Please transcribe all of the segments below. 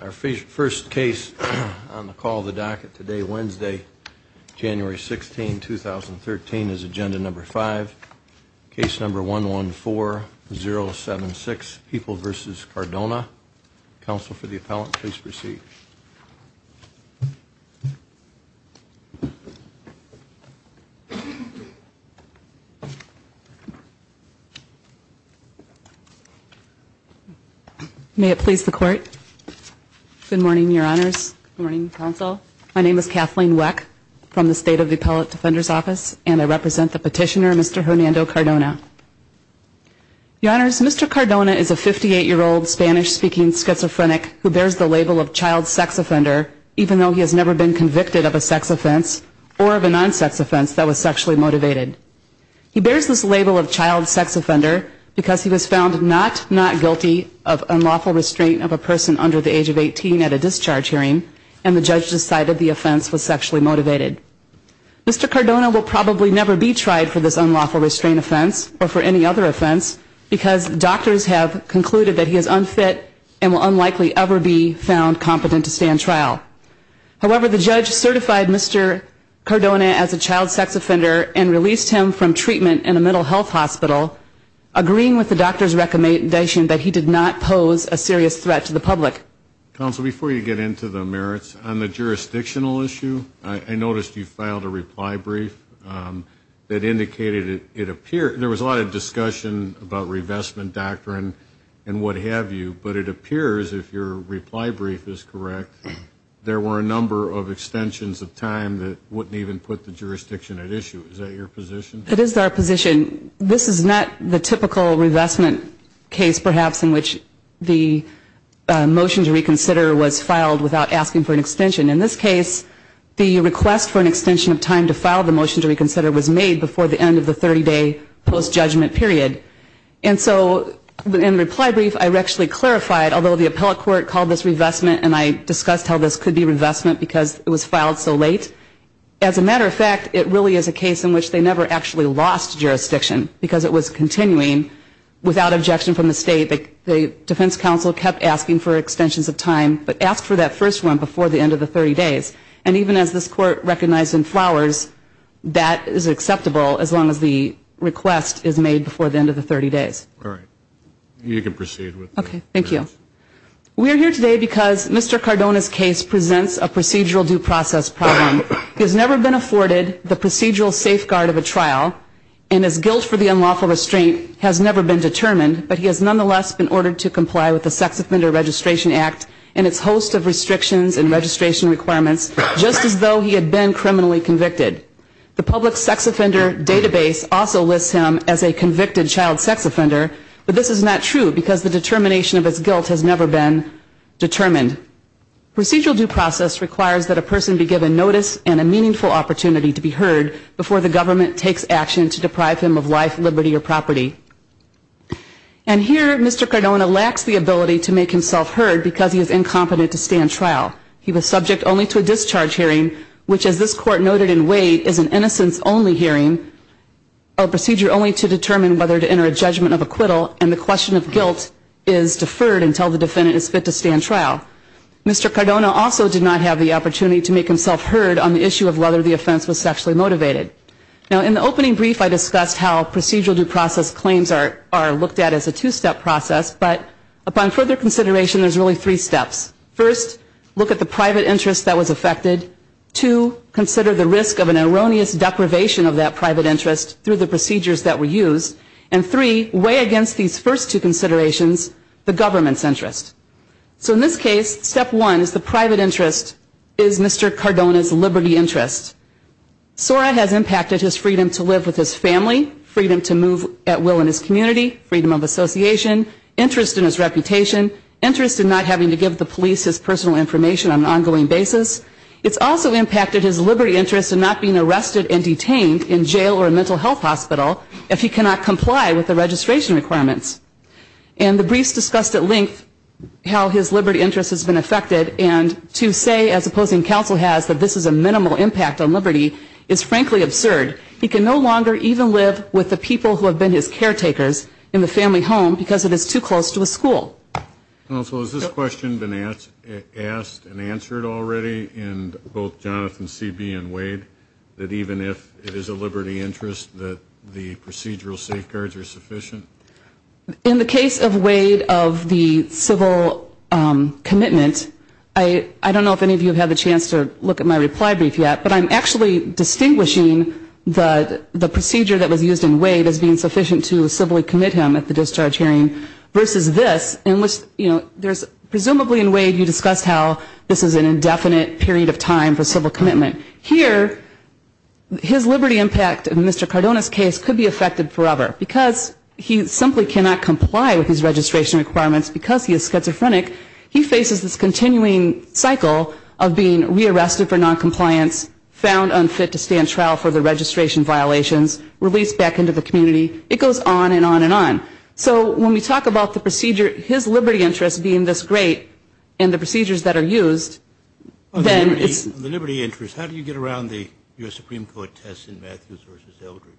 Our first case on the call of the docket today, Wednesday, January 16, 2013, is agenda number five, case number 114076, People v. Cardona. Counsel for the May it please the court. Good morning, Your Honors. Good morning, Counsel. My name is Kathleen Weck from the State of the Appellate Defender's Office, and I represent the petitioner, Mr. Hernando Cardona. Your Honors, Mr. Cardona is a 58-year-old Spanish-speaking schizophrenic who bears the label of child sex offender, even though he has never been convicted of a sex offense or of a non-sex offense that was sexually motivated. He bears this label of child sex offender because he was found not not guilty of unlawful restraint of a person under the age of 18 at a discharge hearing, and the judge decided the offense was sexually motivated. Mr. Cardona will probably never be tried for this unlawful restraint offense or for any other offense because doctors have concluded that he is unfit and will unlikely ever be found competent to stand trial. However, the judge certified Mr. Cardona as a child health hospital, agreeing with the doctor's recommendation that he did not pose a serious threat to the public. Counsel, before you get into the merits, on the jurisdictional issue, I noticed you filed a reply brief that indicated it appeared there was a lot of discussion about revestment doctrine and what have you, but it appears if your reply brief is correct, there were a number of extensions of time that wouldn't even put the jurisdiction at This is not the typical revestment case, perhaps, in which the motion to reconsider was filed without asking for an extension. In this case, the request for an extension of time to file the motion to reconsider was made before the end of the 30-day post-judgment period. And so in the reply brief, I actually clarified, although the appellate court called this revestment and I discussed how this could be revestment because it was filed so late, as a matter of fact, it really is a case in which they never actually lost jurisdiction because it was continuing without objection from the state. The defense counsel kept asking for extensions of time, but asked for that first one before the end of the 30 days. And even as this court recognized in Flowers, that is acceptable as long as the request is made before the end of the 30 days. All right. You can proceed with the Okay. Thank you. We are here today because Mr. Cardona's case presents a procedural due process problem. He has never been afforded the procedural safeguard of a trial and his guilt for the unlawful restraint has never been determined, but he has nonetheless been ordered to comply with the Sex Offender Registration Act and its host of restrictions and registration requirements, just as though he had been criminally convicted. The public sex offender database also lists him as a convicted child sex offender, but this is not true because the determination of his guilt has never been determined. Procedural due process requires that a person be given notice and a meaningful opportunity to be heard before the government takes action to deprive him of life, liberty, or property. And here Mr. Cardona lacks the ability to make himself heard because he is incompetent to stand trial. He was subject only to a discharge hearing, which as this court noted in Wade is an innocence only hearing, a procedure only to determine whether to enter a judgment of acquittal and the question of guilt is deferred until the defendant is fit to stand trial. Mr. Cardona also did not have the opportunity to make himself heard on the issue of whether the offense was sexually motivated. Now in the opening brief I discussed how procedural due process claims are looked at as a two-step process, but upon further consideration there's really three steps. First, look at the private interest that was affected. Two, consider the risk of an erroneous deprivation of that private interest through the procedures that were used. And three, weigh against these first two considerations the government's interest. So in this case, step one is the private interest is Mr. Cardona's liberty interest. SORA has impacted his freedom to live with his family, freedom to move at will in his community, freedom of association, interest in his reputation, interest in not having to give the police his personal information on an ongoing basis. It's also impacted his liberty interest in not being arrested and detained in jail or a mental health hospital if he cannot comply with the registration requirements. And the briefs discussed at length how his liberty interest has been affected and to say, as opposing counsel has, that this is a minimal impact on liberty is frankly absurd. He can no longer even live with the people who have been his caretakers in the family home because it is too close to a school. Counsel, has this question been asked and answered already in both Jonathan Seebe and Wade, that even if it is a liberty interest that the procedural safeguards are sufficient? In the case of Wade of the civil commitment, I don't know if any of you have had the chance to look at my reply brief yet, but I'm actually distinguishing the procedure that was used in Wade as being sufficient to simply commit him at the discharge hearing versus this in which there's presumably in Wade you discussed how this is an indefinite period of time for civil commitment. Here, his liberty impact in Mr. Cardona's case could be affected forever. Because he simply cannot comply with his registration requirements because he is schizophrenic, he faces this continuing cycle of being rearrested for noncompliance, found unfit to stand trial for the registration violations, released back into the community. It goes on and on and on. So when we talk about the procedure, his liberty interest being this great and the procedures that are used, then it's... The liberty interest, how do you get around the U.S. Supreme Court test in Matthews versus Eldridge?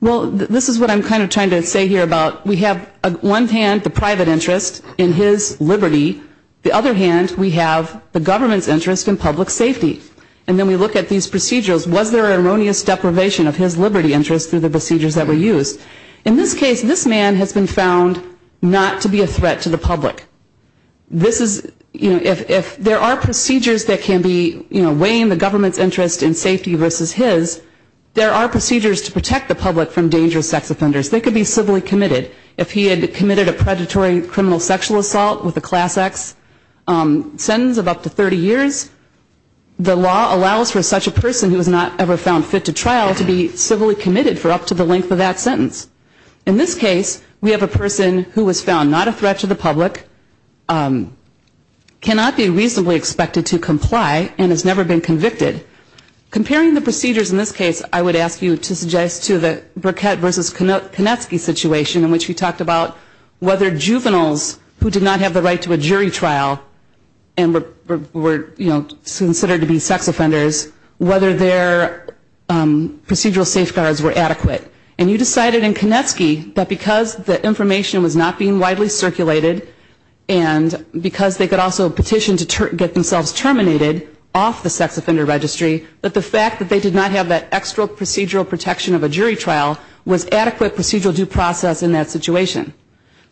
Well, this is what I'm kind of trying to say here about we have one hand the private interest in his liberty, the other hand we have the government's interest in public safety. And when we look at these procedures, was there an erroneous deprivation of his liberty interest through the procedures that were used? In this case, this man has been found not to be a threat to the public. This is, you know, if there are procedures that can be, you know, weighing the government's interest in safety versus his, there are procedures to protect the public from dangerous sex offenders. They could be civilly committed. If he had committed a predatory criminal sexual assault with a Class X sentence of up to 30 years, the law allows for such a person who is not ever found fit to trial to be civilly committed for up to the length of that sentence. In this case, we have a person who was found not a threat to the public, cannot be reasonably expected to comply, and has never been convicted. Comparing the procedures in this case, I would ask you to suggest to the Burkett versus Konetsky situation in which we talked about whether juveniles who did not have the right to a their procedural safeguards were adequate. And you decided in Konetsky that because the information was not being widely circulated and because they could also petition to get themselves terminated off the sex offender registry, that the fact that they did not have that extra procedural protection of a jury trial was adequate procedural due process in that situation.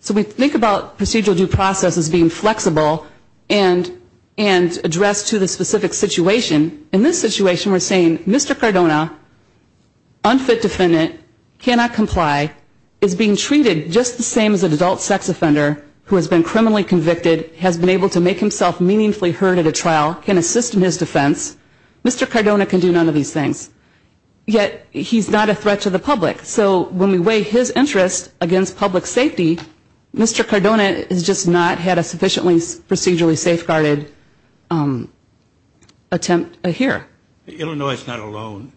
So we think about procedural due process as being flexible and addressed to the specific situation. In this situation, we're saying Mr. Cardona, unfit defendant, cannot comply, is being treated just the same as an adult sex offender who has been criminally convicted, has been able to make himself meaningfully heard at a trial, can assist in his defense. Mr. Cardona can do none of these things. Yet, he's not a threat to the public. So when we weigh his interest against public safety, Mr. Cardona has just not had a sufficiently procedurally safeguarded attempt here. Illinois is not alone.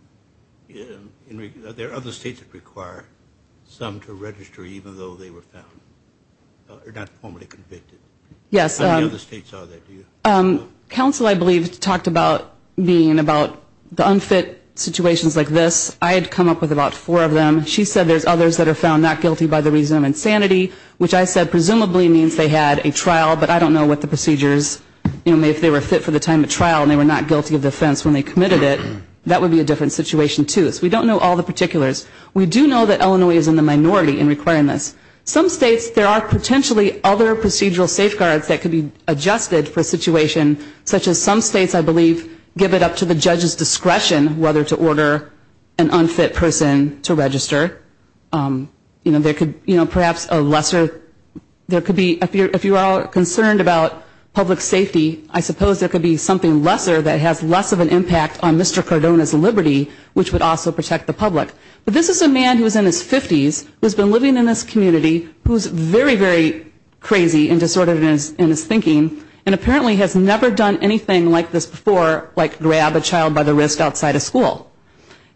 There are other states that require some to register even though they were found, or not formally convicted. How many other states are there? Counsel, I believe, talked about being about the unfit situations like this. I had come up with about four of them. She said there's others that are found not guilty by the reason of common sanity, which I said presumably means they had a trial, but I don't know what the procedures, if they were fit for the time of trial and they were not guilty of the offense when they committed it, that would be a different situation too. So we don't know all the particulars. We do know that Illinois is in the minority in requiring this. Some states, there are potentially other procedural safeguards that could be adjusted for a situation such as some states, I believe, give it up to the judge's discretion whether to order an unfit person to register. You know, there could perhaps a lesser, there could be, if you are concerned about public safety, I suppose there could be something lesser that has less of an impact on Mr. Cardona's liberty, which would also protect the public. But this is a man who is in his 50s, who has been living in this community, who is very, very crazy and disordered in his thinking, and apparently has never done anything like this before, like grab a child by the wrist outside a school.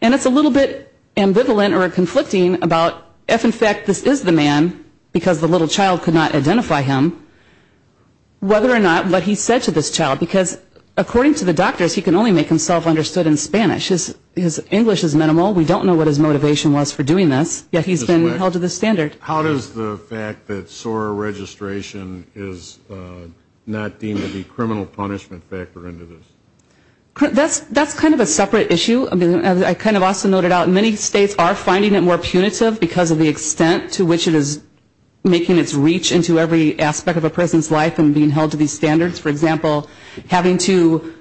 And it's a little bit ambivalent or conflicting about if, in fact, this is the man, because the little child could not identify him, whether or not what he said to this child, because according to the doctors, he can only make himself understood in Spanish. His English is minimal. We don't know what his motivation was for doing this, yet he's been held to this standard. How does the fact that SOAR registration is not deemed to be criminal punishment factor into this? That's kind of a separate issue. I kind of also noted out many states are finding it more punitive because of the extent to which it is making its reach into every aspect of a person's life and being held to these standards. For example, having to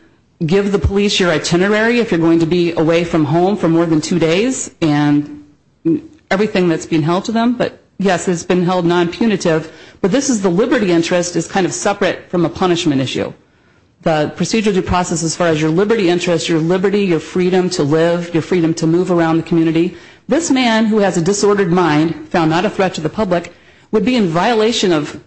give the police your itinerary if you're going to be away from home for more than two days, and everything that's being held to them, but yes, it's been held non-punitive, but this is the liberty interest is kind of separate from a punishment issue. The procedure due process as far as your liberty interest, your liberty, your freedom to live, your freedom to move around the community, this man who has a disordered mind, found not a threat to the public, would be in violation of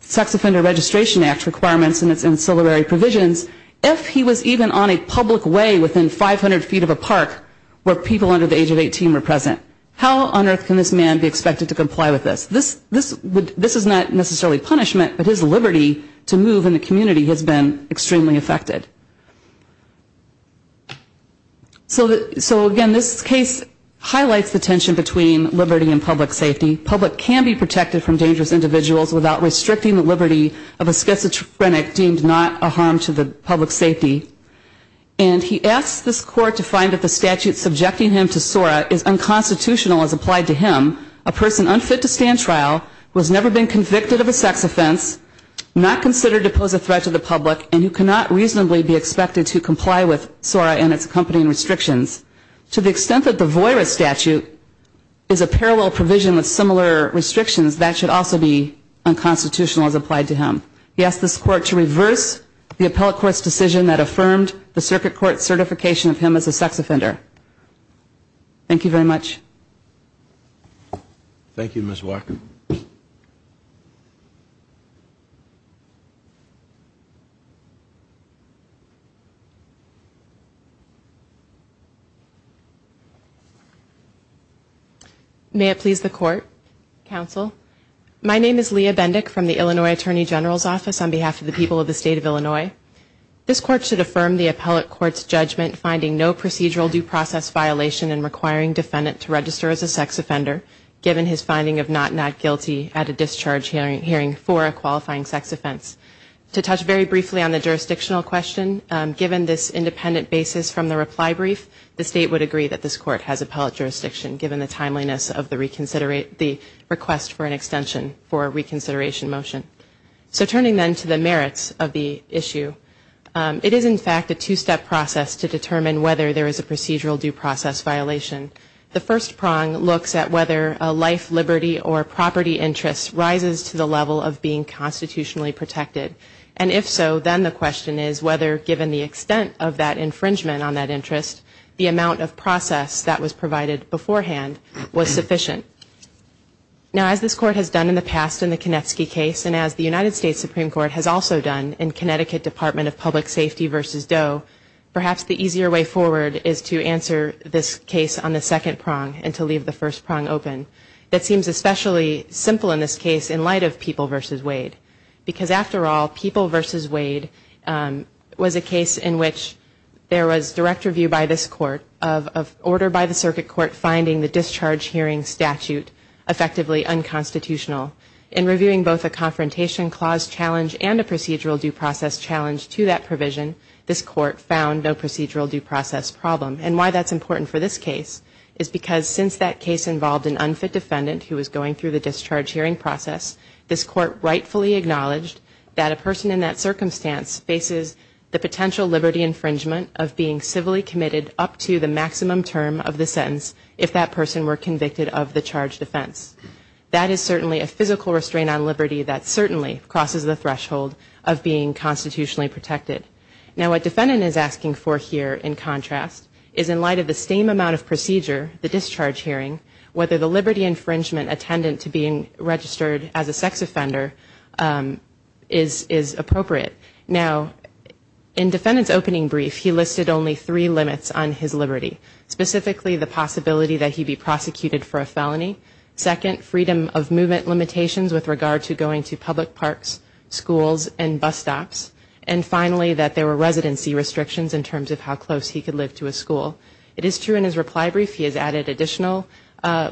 Sex Offender Registration Act requirements and its ancillary provisions if he was even on a public way within 500 feet of a park where people under the age of 18 were present. How on earth can this man be expected to comply with this? This is not necessarily punishment, but his liberty to move in the community has been extremely affected. So again, this case highlights the tension between liberty and public safety. Public can be protected from dangerous individuals without restricting the liberty of a schizophrenic deemed not a harm to the public's safety. And he asks this court to find that the statute subjecting him to SORA is unconstitutional as applied to him, a person unfit to stand trial, who has never been convicted of a sex offense, not considered to pose a threat to the public, and who cannot reasonably be expected to comply with SORA and its accompanying restrictions. To the extent that the VOIRA statute is a parallel provision with similar restrictions, that should also be unconstitutional as applied to him. He asks this court to reverse the Thank you very much. Thank you, Ms. Walker. May it please the court, counsel. My name is Leah Bendick from the Illinois Attorney General's Office on behalf of the people of the state of Illinois. This court should affirm the appellate court's judgment finding no procedural due process violation in requiring defendant to register as a sex offender given his finding of not not guilty at a discharge hearing for a qualifying sex offense. To touch very briefly on the jurisdictional question, given this independent basis from the reply brief, the state would agree that this court has appellate jurisdiction given the timeliness of the request for an extension for a reconsideration motion. So turning then to the merits of the issue, it is in fact a two-step process to determine whether there is a procedural due process violation. The first prong looks at whether a life, liberty, or property interest rises to the level of being constitutionally protected. And if so, then the question is whether given the extent of that infringement on that interest, the amount of process that was provided beforehand was sufficient. Now as this court has done in the past in the Konevsky case and as the United States Supreme Court has also done in Connecticut Department of Public Safety v. Doe, perhaps the easier way forward is to answer this case on the second prong and to leave the first prong open. That seems especially simple in this case in light of People v. Wade. Because after all, People v. Wade was a case in which there was direct review by this court of order by the circuit court finding the discharge hearing statute effectively unconstitutional. In reviewing both a confrontation clause challenge and a procedural due process challenge to that provision, this court found no procedural due process problem. And why that's important for this case is because since that case involved an unfit defendant who was going through the discharge hearing process, this court rightfully acknowledged that a person in that circumstance faces the potential liberty infringement of being civilly committed up to the maximum term of the sentence if that person were convicted of the charged offense. That is certainly a physical restraint on liberty that certainly crosses the threshold of being constitutionally protected. Now what defendant is asking for here in contrast is in light of the same amount of procedure, the discharge hearing, whether the liberty infringement attendant to being registered as a sex offender is appropriate. Now in defendant's opening brief he listed only three limits on his liberty. Specifically the possibility that he be prosecuted for a felony. Second, freedom of movement limitations with regard to going to public parks, schools, and bus stops. And finally that there were residency restrictions in terms of how close he could live to a school. It is true in his reply brief he has added additional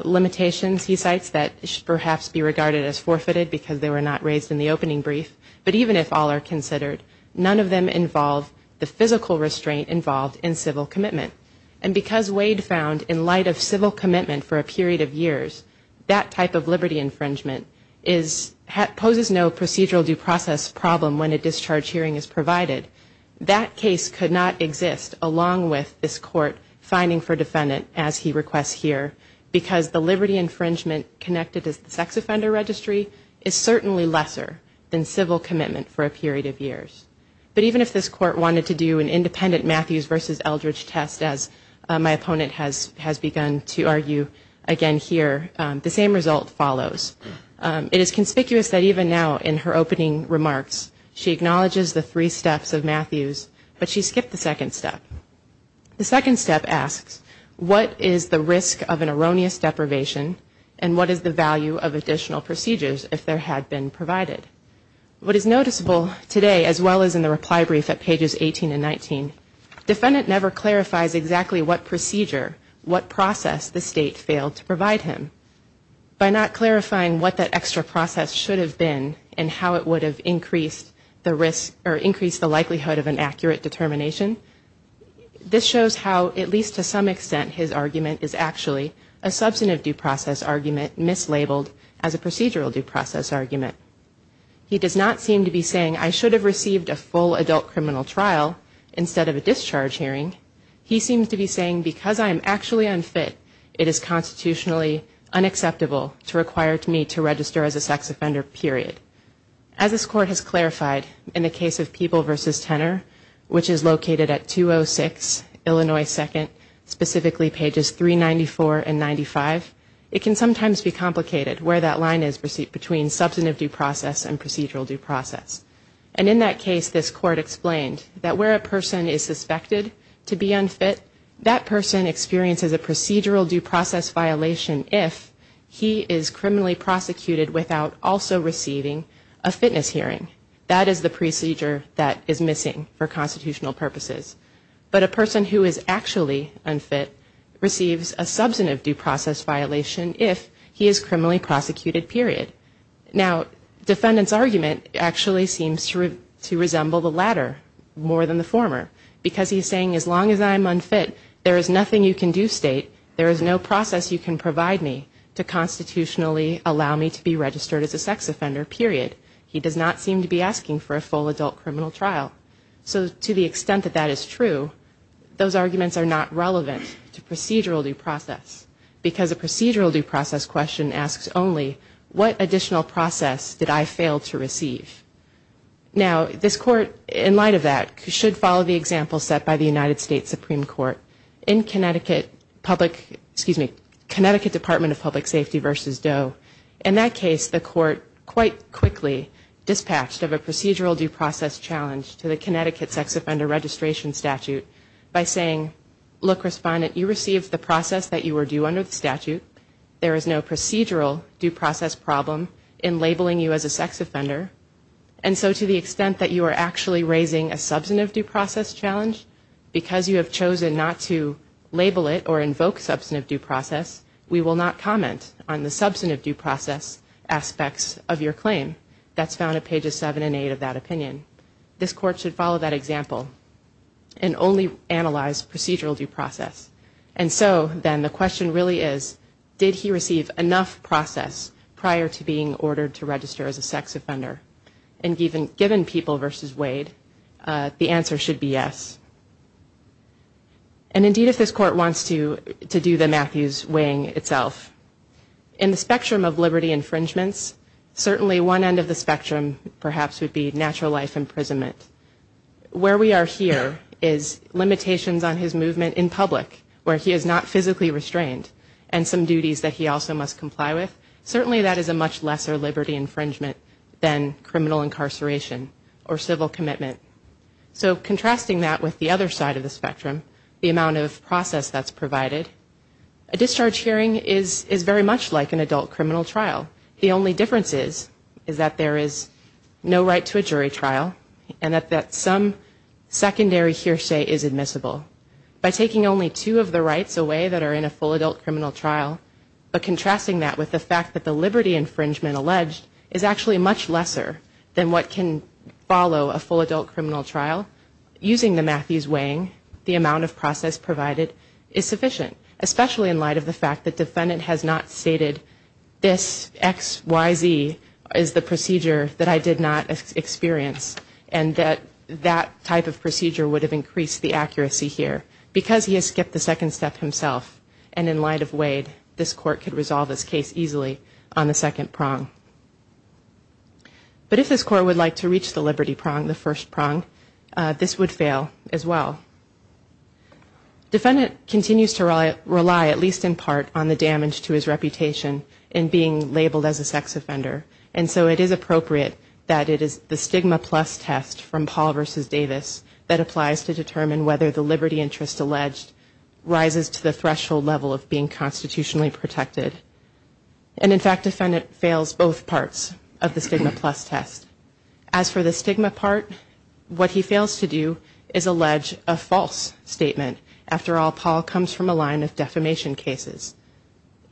limitations he cites that should perhaps be regarded as forfeited because they were not raised in the opening brief. But even if all are considered, none of them involve the physical restraint involved in civil commitment. And because Wade found in light of civil commitment for a period of years that type of liberty infringement poses no procedural due process problem when a discharge hearing is provided. That case could not exist along with this court finding for defendant as he requests here because the liberty infringement connected as the sex offender registry is certainly lesser than civil commitment for a period of years. But even if this court wanted to do an independent Matthews versus Eldridge test as my opponent has begun to argue again here, the same result follows. It is conspicuous that even now in her opening remarks she acknowledges the three steps of Matthews but she skipped the second step. The second step asks what is the risk of an erroneous deprivation and what is the value of additional procedures if there had been provided? What is noticeable today as well as in the reply brief at pages 18 and 19, defendant never clarifies exactly what procedure, what process the state failed to provide him. By not clarifying what that extra process should have been and how it would have increased the likelihood of an accurate determination, this shows how at least to some extent his argument is actually a substantive due process argument mislabeled as a procedural due process argument. He does not seem to be saying I should have received a full adult criminal trial instead of a discharge hearing. He seems to be saying because I am actually unfit it is constitutionally unacceptable to require me to register as a sex offender period. As this court has clarified in the case of Peeble versus Tenner which is located at 206 Illinois 2nd specifically pages 394 and 95, it can sometimes be complicated where that line is between substantive due process and procedural due process. And in that case this court explained that where a person is suspected to be unfit, that person experiences a procedural due process violation if he is criminally prosecuted without also receiving a fitness hearing. That is the procedure that is missing for constitutional purposes. But a person who is actually unfit receives a procedural due process violation. The defendant's argument actually seems to resemble the latter more than the former because he is saying as long as I am unfit there is nothing you can do state, there is no process you can provide me to constitutionally allow me to be registered as a sex offender period. He does not seem to be asking for a full adult criminal trial. So to the extent that that is true, those arguments are not relevant to procedural due process because a procedural due process question asks only what additional process did I fail to receive. Now this court, in light of that, should follow the example set by the United States Supreme Court. In Connecticut Public, excuse me, Connecticut Department of Public Safety versus Doe, in that case the court quite quickly dispatched of a procedural due process challenge to the Connecticut Sex Offender Registration Statute by saying look respondent, you received the process that you were due under the statute, there is no procedural due process problem in labeling you as a sex offender and so to the extent that you are actually raising a substantive due process challenge, because you have chosen not to label it or invoke substantive due process, we will not comment on the substantive due process aspects of your claim. That's found at pages 7 and 8 of that opinion. This court should follow that example and only analyze procedural due process. And so then the question really is, did he receive enough process prior to being ordered to register as a sex offender? And given people versus Wade, the answer should be yes. And indeed if this court wants to do the Matthews wing itself, in the spectrum of liberty infringements, certainly one end of the spectrum perhaps would be natural life public, where he is not physically restrained and some duties that he also must comply with. Certainly that is a much lesser liberty infringement than criminal incarceration or civil commitment. So contrasting that with the other side of the spectrum, the amount of process that's provided, a discharge hearing is very much like an adult criminal trial. The only difference is that there is no right to a jury trial and that some secondary hearsay is admissible. By taking only two of the rights away that are in a full adult criminal trial, but contrasting that with the fact that the liberty infringement alleged is actually much lesser than what can follow a full adult criminal trial, using the Matthews wing, the amount of process provided is sufficient, especially in light of the fact that defendant has not stated this XYZ is the procedure that I did not experience and that that type of procedure would have increased the accuracy here because he has skipped the second step himself and in light of Wade, this court could resolve this case easily on the second prong. But if this court would like to reach the liberty prong, the first prong, this would fail as well. Defendant continues to rely at least in part on the damage to his reputation in being labeled as a sex offender and so it is appropriate that it is the stigma plus test from Paul versus Davis that applies to determine whether the liberty interest alleged rises to the threshold level of being constitutionally protected. And in fact, defendant fails both parts of the stigma plus test. As for the stigma part, what he fails to do is allege a false statement. After all, Paul comes from a line of defamation cases.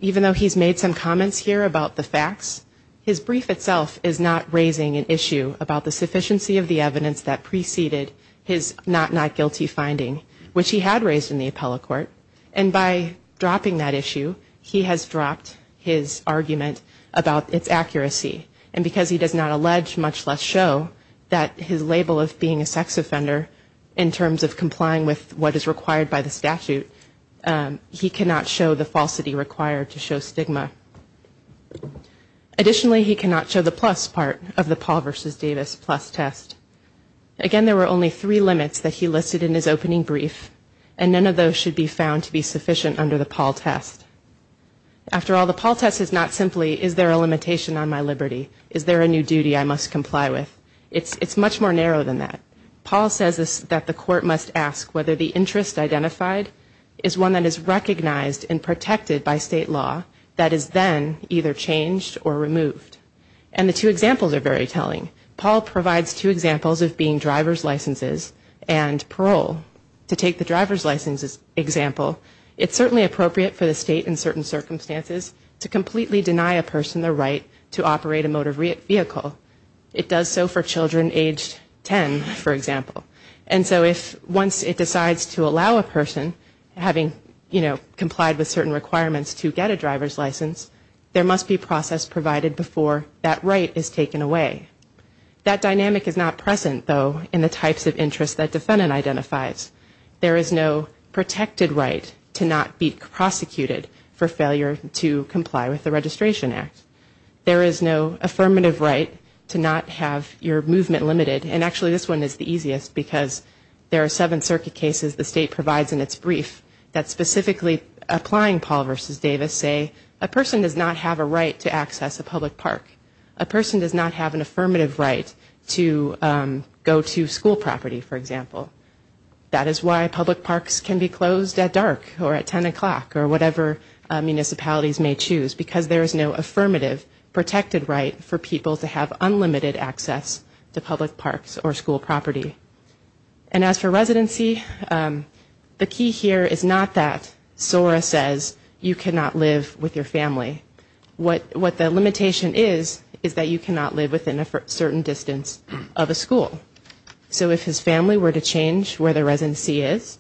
Even though he's made some comments here about the facts, his brief itself is not raising an issue about the sufficiency of the evidence that preceded his not not guilty finding, which he had raised in the appellate court. And by dropping that issue, he has dropped his argument about its accuracy. And because he does not allege, much less show, that his label of being a sex offender in terms of complying with what is required by the statute, he cannot show the falsity required to show stigma. Additionally, he cannot show the plus part of the Paul versus Davis plus test. Again, there were only three limits that he listed in his opening brief, and none of those should be found to be sufficient under the Paul test. After all, the Paul test is not simply, is there a limitation on my liberty? Is there a new duty I must comply with? It's much more narrow than that. Paul says that the court must ask whether the interest identified is one that is recognized and protected by state law that is then either changed or removed. And the two examples are very telling. Paul provides two examples of being driver's licenses and parole. To take the driver's license example, it's certainly appropriate for the state in certain circumstances to completely deny a person the right to operate a motor vehicle. It does so for children age 10, for example. And so if once it decides to allow a person having, you know, complied with certain requirements to get a driver's license, there must be process provided before that right is taken away. That dynamic is not present, though, in the types of interests that defendant identifies. There is no protected right to not be prosecuted for failure to comply with the Registration Act. There is no affirmative right to not have your movement limited, and actually this one is the easiest because there are seven circuit cases the state provides in its brief that specifically applying Paul v. Davis say a person does not have a right to access a public park. A person does not have an affirmative right to go to school property, for example. That is why public parks can be closed at dark or at 10 o'clock or whatever municipalities may choose because there is no affirmative protected right for people to have unlimited access to public parks or school property. And as for residency, the key here is not that SORA says you cannot live with your family. What the limitation is, is that you cannot live within a certain distance of a school. So if his family were to change where the residency is,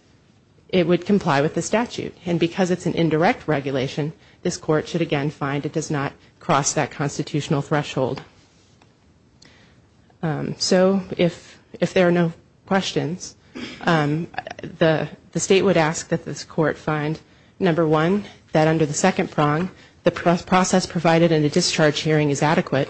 it would comply with the statute. And because it's an indirect regulation, this Court should again find it does not cross that constitutional threshold. So if there are no questions, the state would ask that this Court find, number one, that under the second prong, the process provided in a discharge hearing is adequate.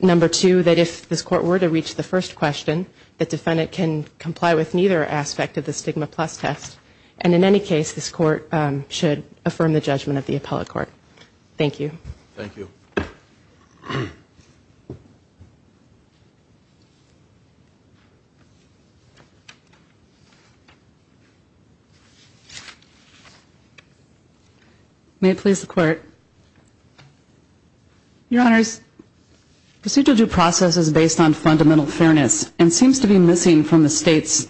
Number two, that if this Court were to reach the first question, the defendant can comply with neither aspect of the stigma plus test. And in any case, this Court should affirm the judgment of the appellate court. Thank you. Thank you. May it please the Court. Your Honors, procedural due process is based on fundamental fairness and seems to be missing from the state's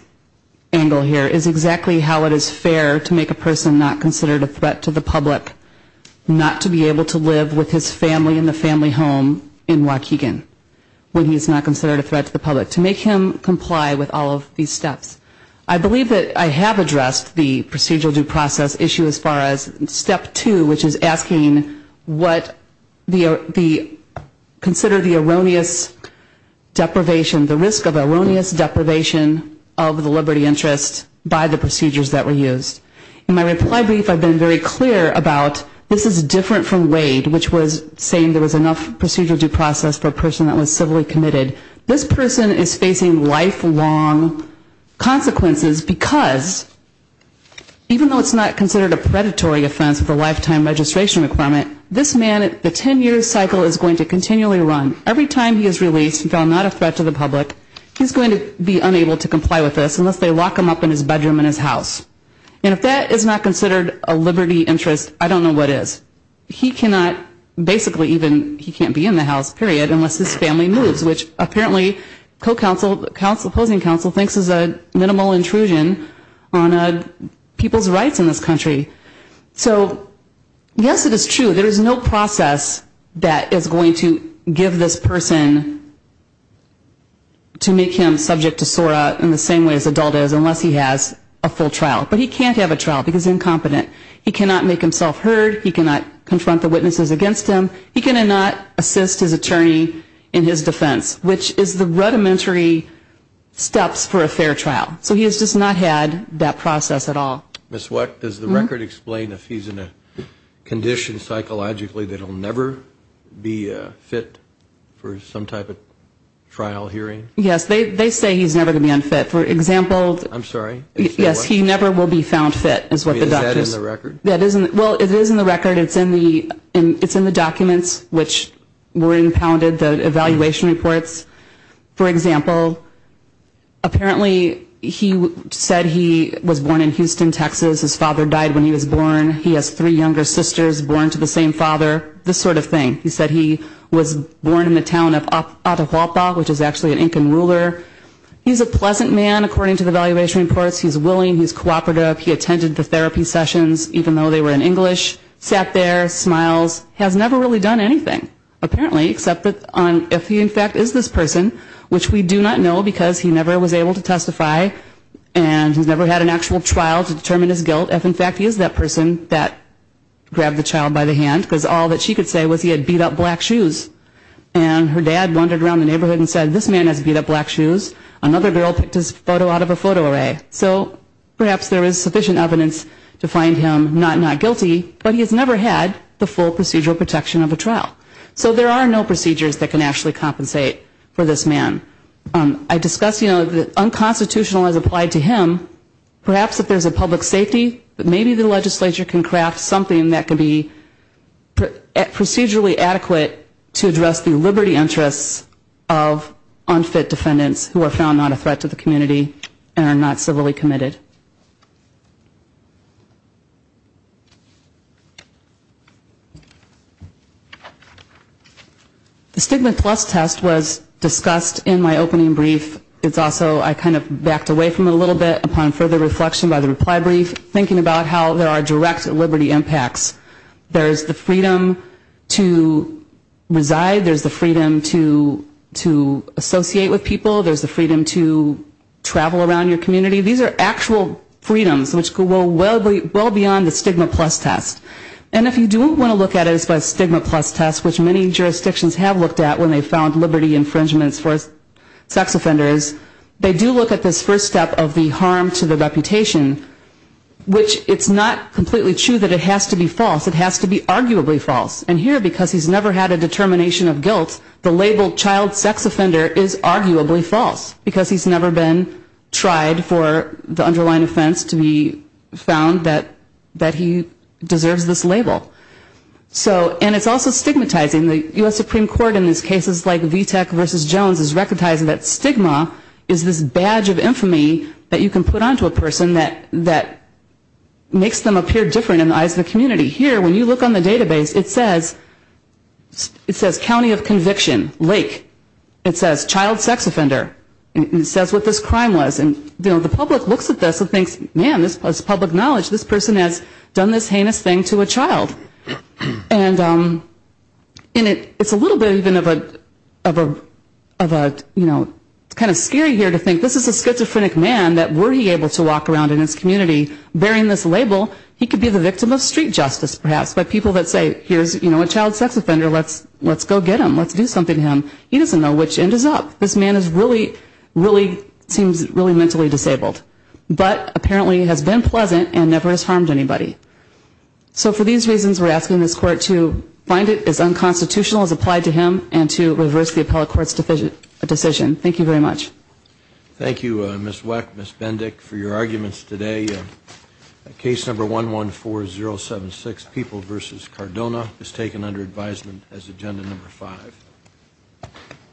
angle here is exactly how it is fair to make a person not considered a threat to the public not to be able to live with his family in the family home in Waukegan when he is not considered a threat to the public. To make him comply with all of these steps. I believe that I have addressed the procedural due process issue as far as step two, which is asking what the, consider the erroneous deprivation, the risk of erroneous deprivation of the liberty interest by the procedures that were used. In my reply brief I have been very clear about this is different from Wade, which was saying there was enough procedural due process for a person that was civilly committed. This person is facing lifelong consequences because even though it's not considered a predatory offense with a lifetime registration requirement, this man, the ten year cycle is going to continually run. Every time he is released and found not a threat to the public, he is going to be And if that is not considered a liberty interest, I don't know what is. He cannot, basically even he can't be in the house, period, unless his family moves, which apparently co-counsel, opposing counsel thinks is a minimal intrusion on people's rights in this country. So yes it is true, there is no process that is going to give this person to make him subject to trial. But he can't have a trial because he is incompetent. He cannot make himself heard. He cannot confront the witnesses against him. He cannot assist his attorney in his defense, which is the rudimentary steps for a fair trial. So he has just not had that process at all. Ms. Weck, does the record explain if he is in a condition psychologically that he will never be fit for some type of trial hearing? Yes, they say he is never going to be unfit. For example, I'm sorry, Yes, he never will be found fit, is what the doctor said. Is that in the record? Well, it is in the record. It is in the documents which were impounded, the evaluation reports. For example, apparently he said he was born in Houston, Texas. His father died when he was born. He has three younger sisters born to the same father. This sort of thing. He said he was born in the town of Atahualpa, which is actually an Incan ruler. He is a man of morals. He is willing. He is cooperative. He attended the therapy sessions, even though they were in English. Sat there, smiles. Has never really done anything, apparently, except that if he in fact is this person, which we do not know because he never was able to testify and he's never had an actual trial to determine his guilt, if in fact he is that person that grabbed the child by the hand, because all that she could say was he had beat up black shoes. And her dad wandered around the neighborhood and said, this man has beat up black shoes. Another girl picked his photo out of a photo array. So perhaps there is sufficient evidence to find him not not guilty, but he has never had the full procedural protection of a trial. So there are no procedures that can actually compensate for this man. I discussed, you know, the unconstitutional as applied to him. Perhaps if there is a public safety, maybe the legislature can craft something that can be procedurally adequate to address the liberty interests of unfit defendants who are found not a threat to the community and are not civilly committed. The stigma plus test was discussed in my opening brief. It's also, I kind of backed away from it a little bit upon further reflection by the reply brief, thinking about how there is the freedom to associate with people. There is the freedom to travel around your community. These are actual freedoms which go well beyond the stigma plus test. And if you don't want to look at it as a stigma plus test, which many jurisdictions have looked at when they found liberty infringements for sex offenders, they do look at this first step of the harm to the reputation, which it's not completely true that it has to be false. It has to be labeled child sex offender is arguably false because he's never been tried for the underlying offense to be found that he deserves this label. So and it's also stigmatizing. The U.S. Supreme Court in these cases like VTAC versus Jones is recognizing that stigma is this badge of infamy that you can put on to a person that makes them appear different in the eyes of the community. Here when you look on the database, it says county of conviction, lake. It says child sex offender. It says what this crime was. And the public looks at this and thinks, man, this is public knowledge. This person has done this heinous thing to a child. And it's a little bit even of a, you know, kind of scary here to think this is a schizophrenic man that were he able to walk around in his community bearing this label, he could be the victim of street justice perhaps by people that say here's, you know, a child sex offender. Let's go get him. Let's do something to him. He doesn't know which end is up. This man is really, really seems really mentally disabled. But apparently has been pleasant and never has harmed anybody. So for these reasons, we're asking this court to find it as unconstitutional as applied to him and to reverse the appellate court's decision. Thank you very much. Thank you, Ms. Weck, Ms. Bendick, for your arguments today. Case number 114076, People v. Cardona, is taken under advisement as agenda number five.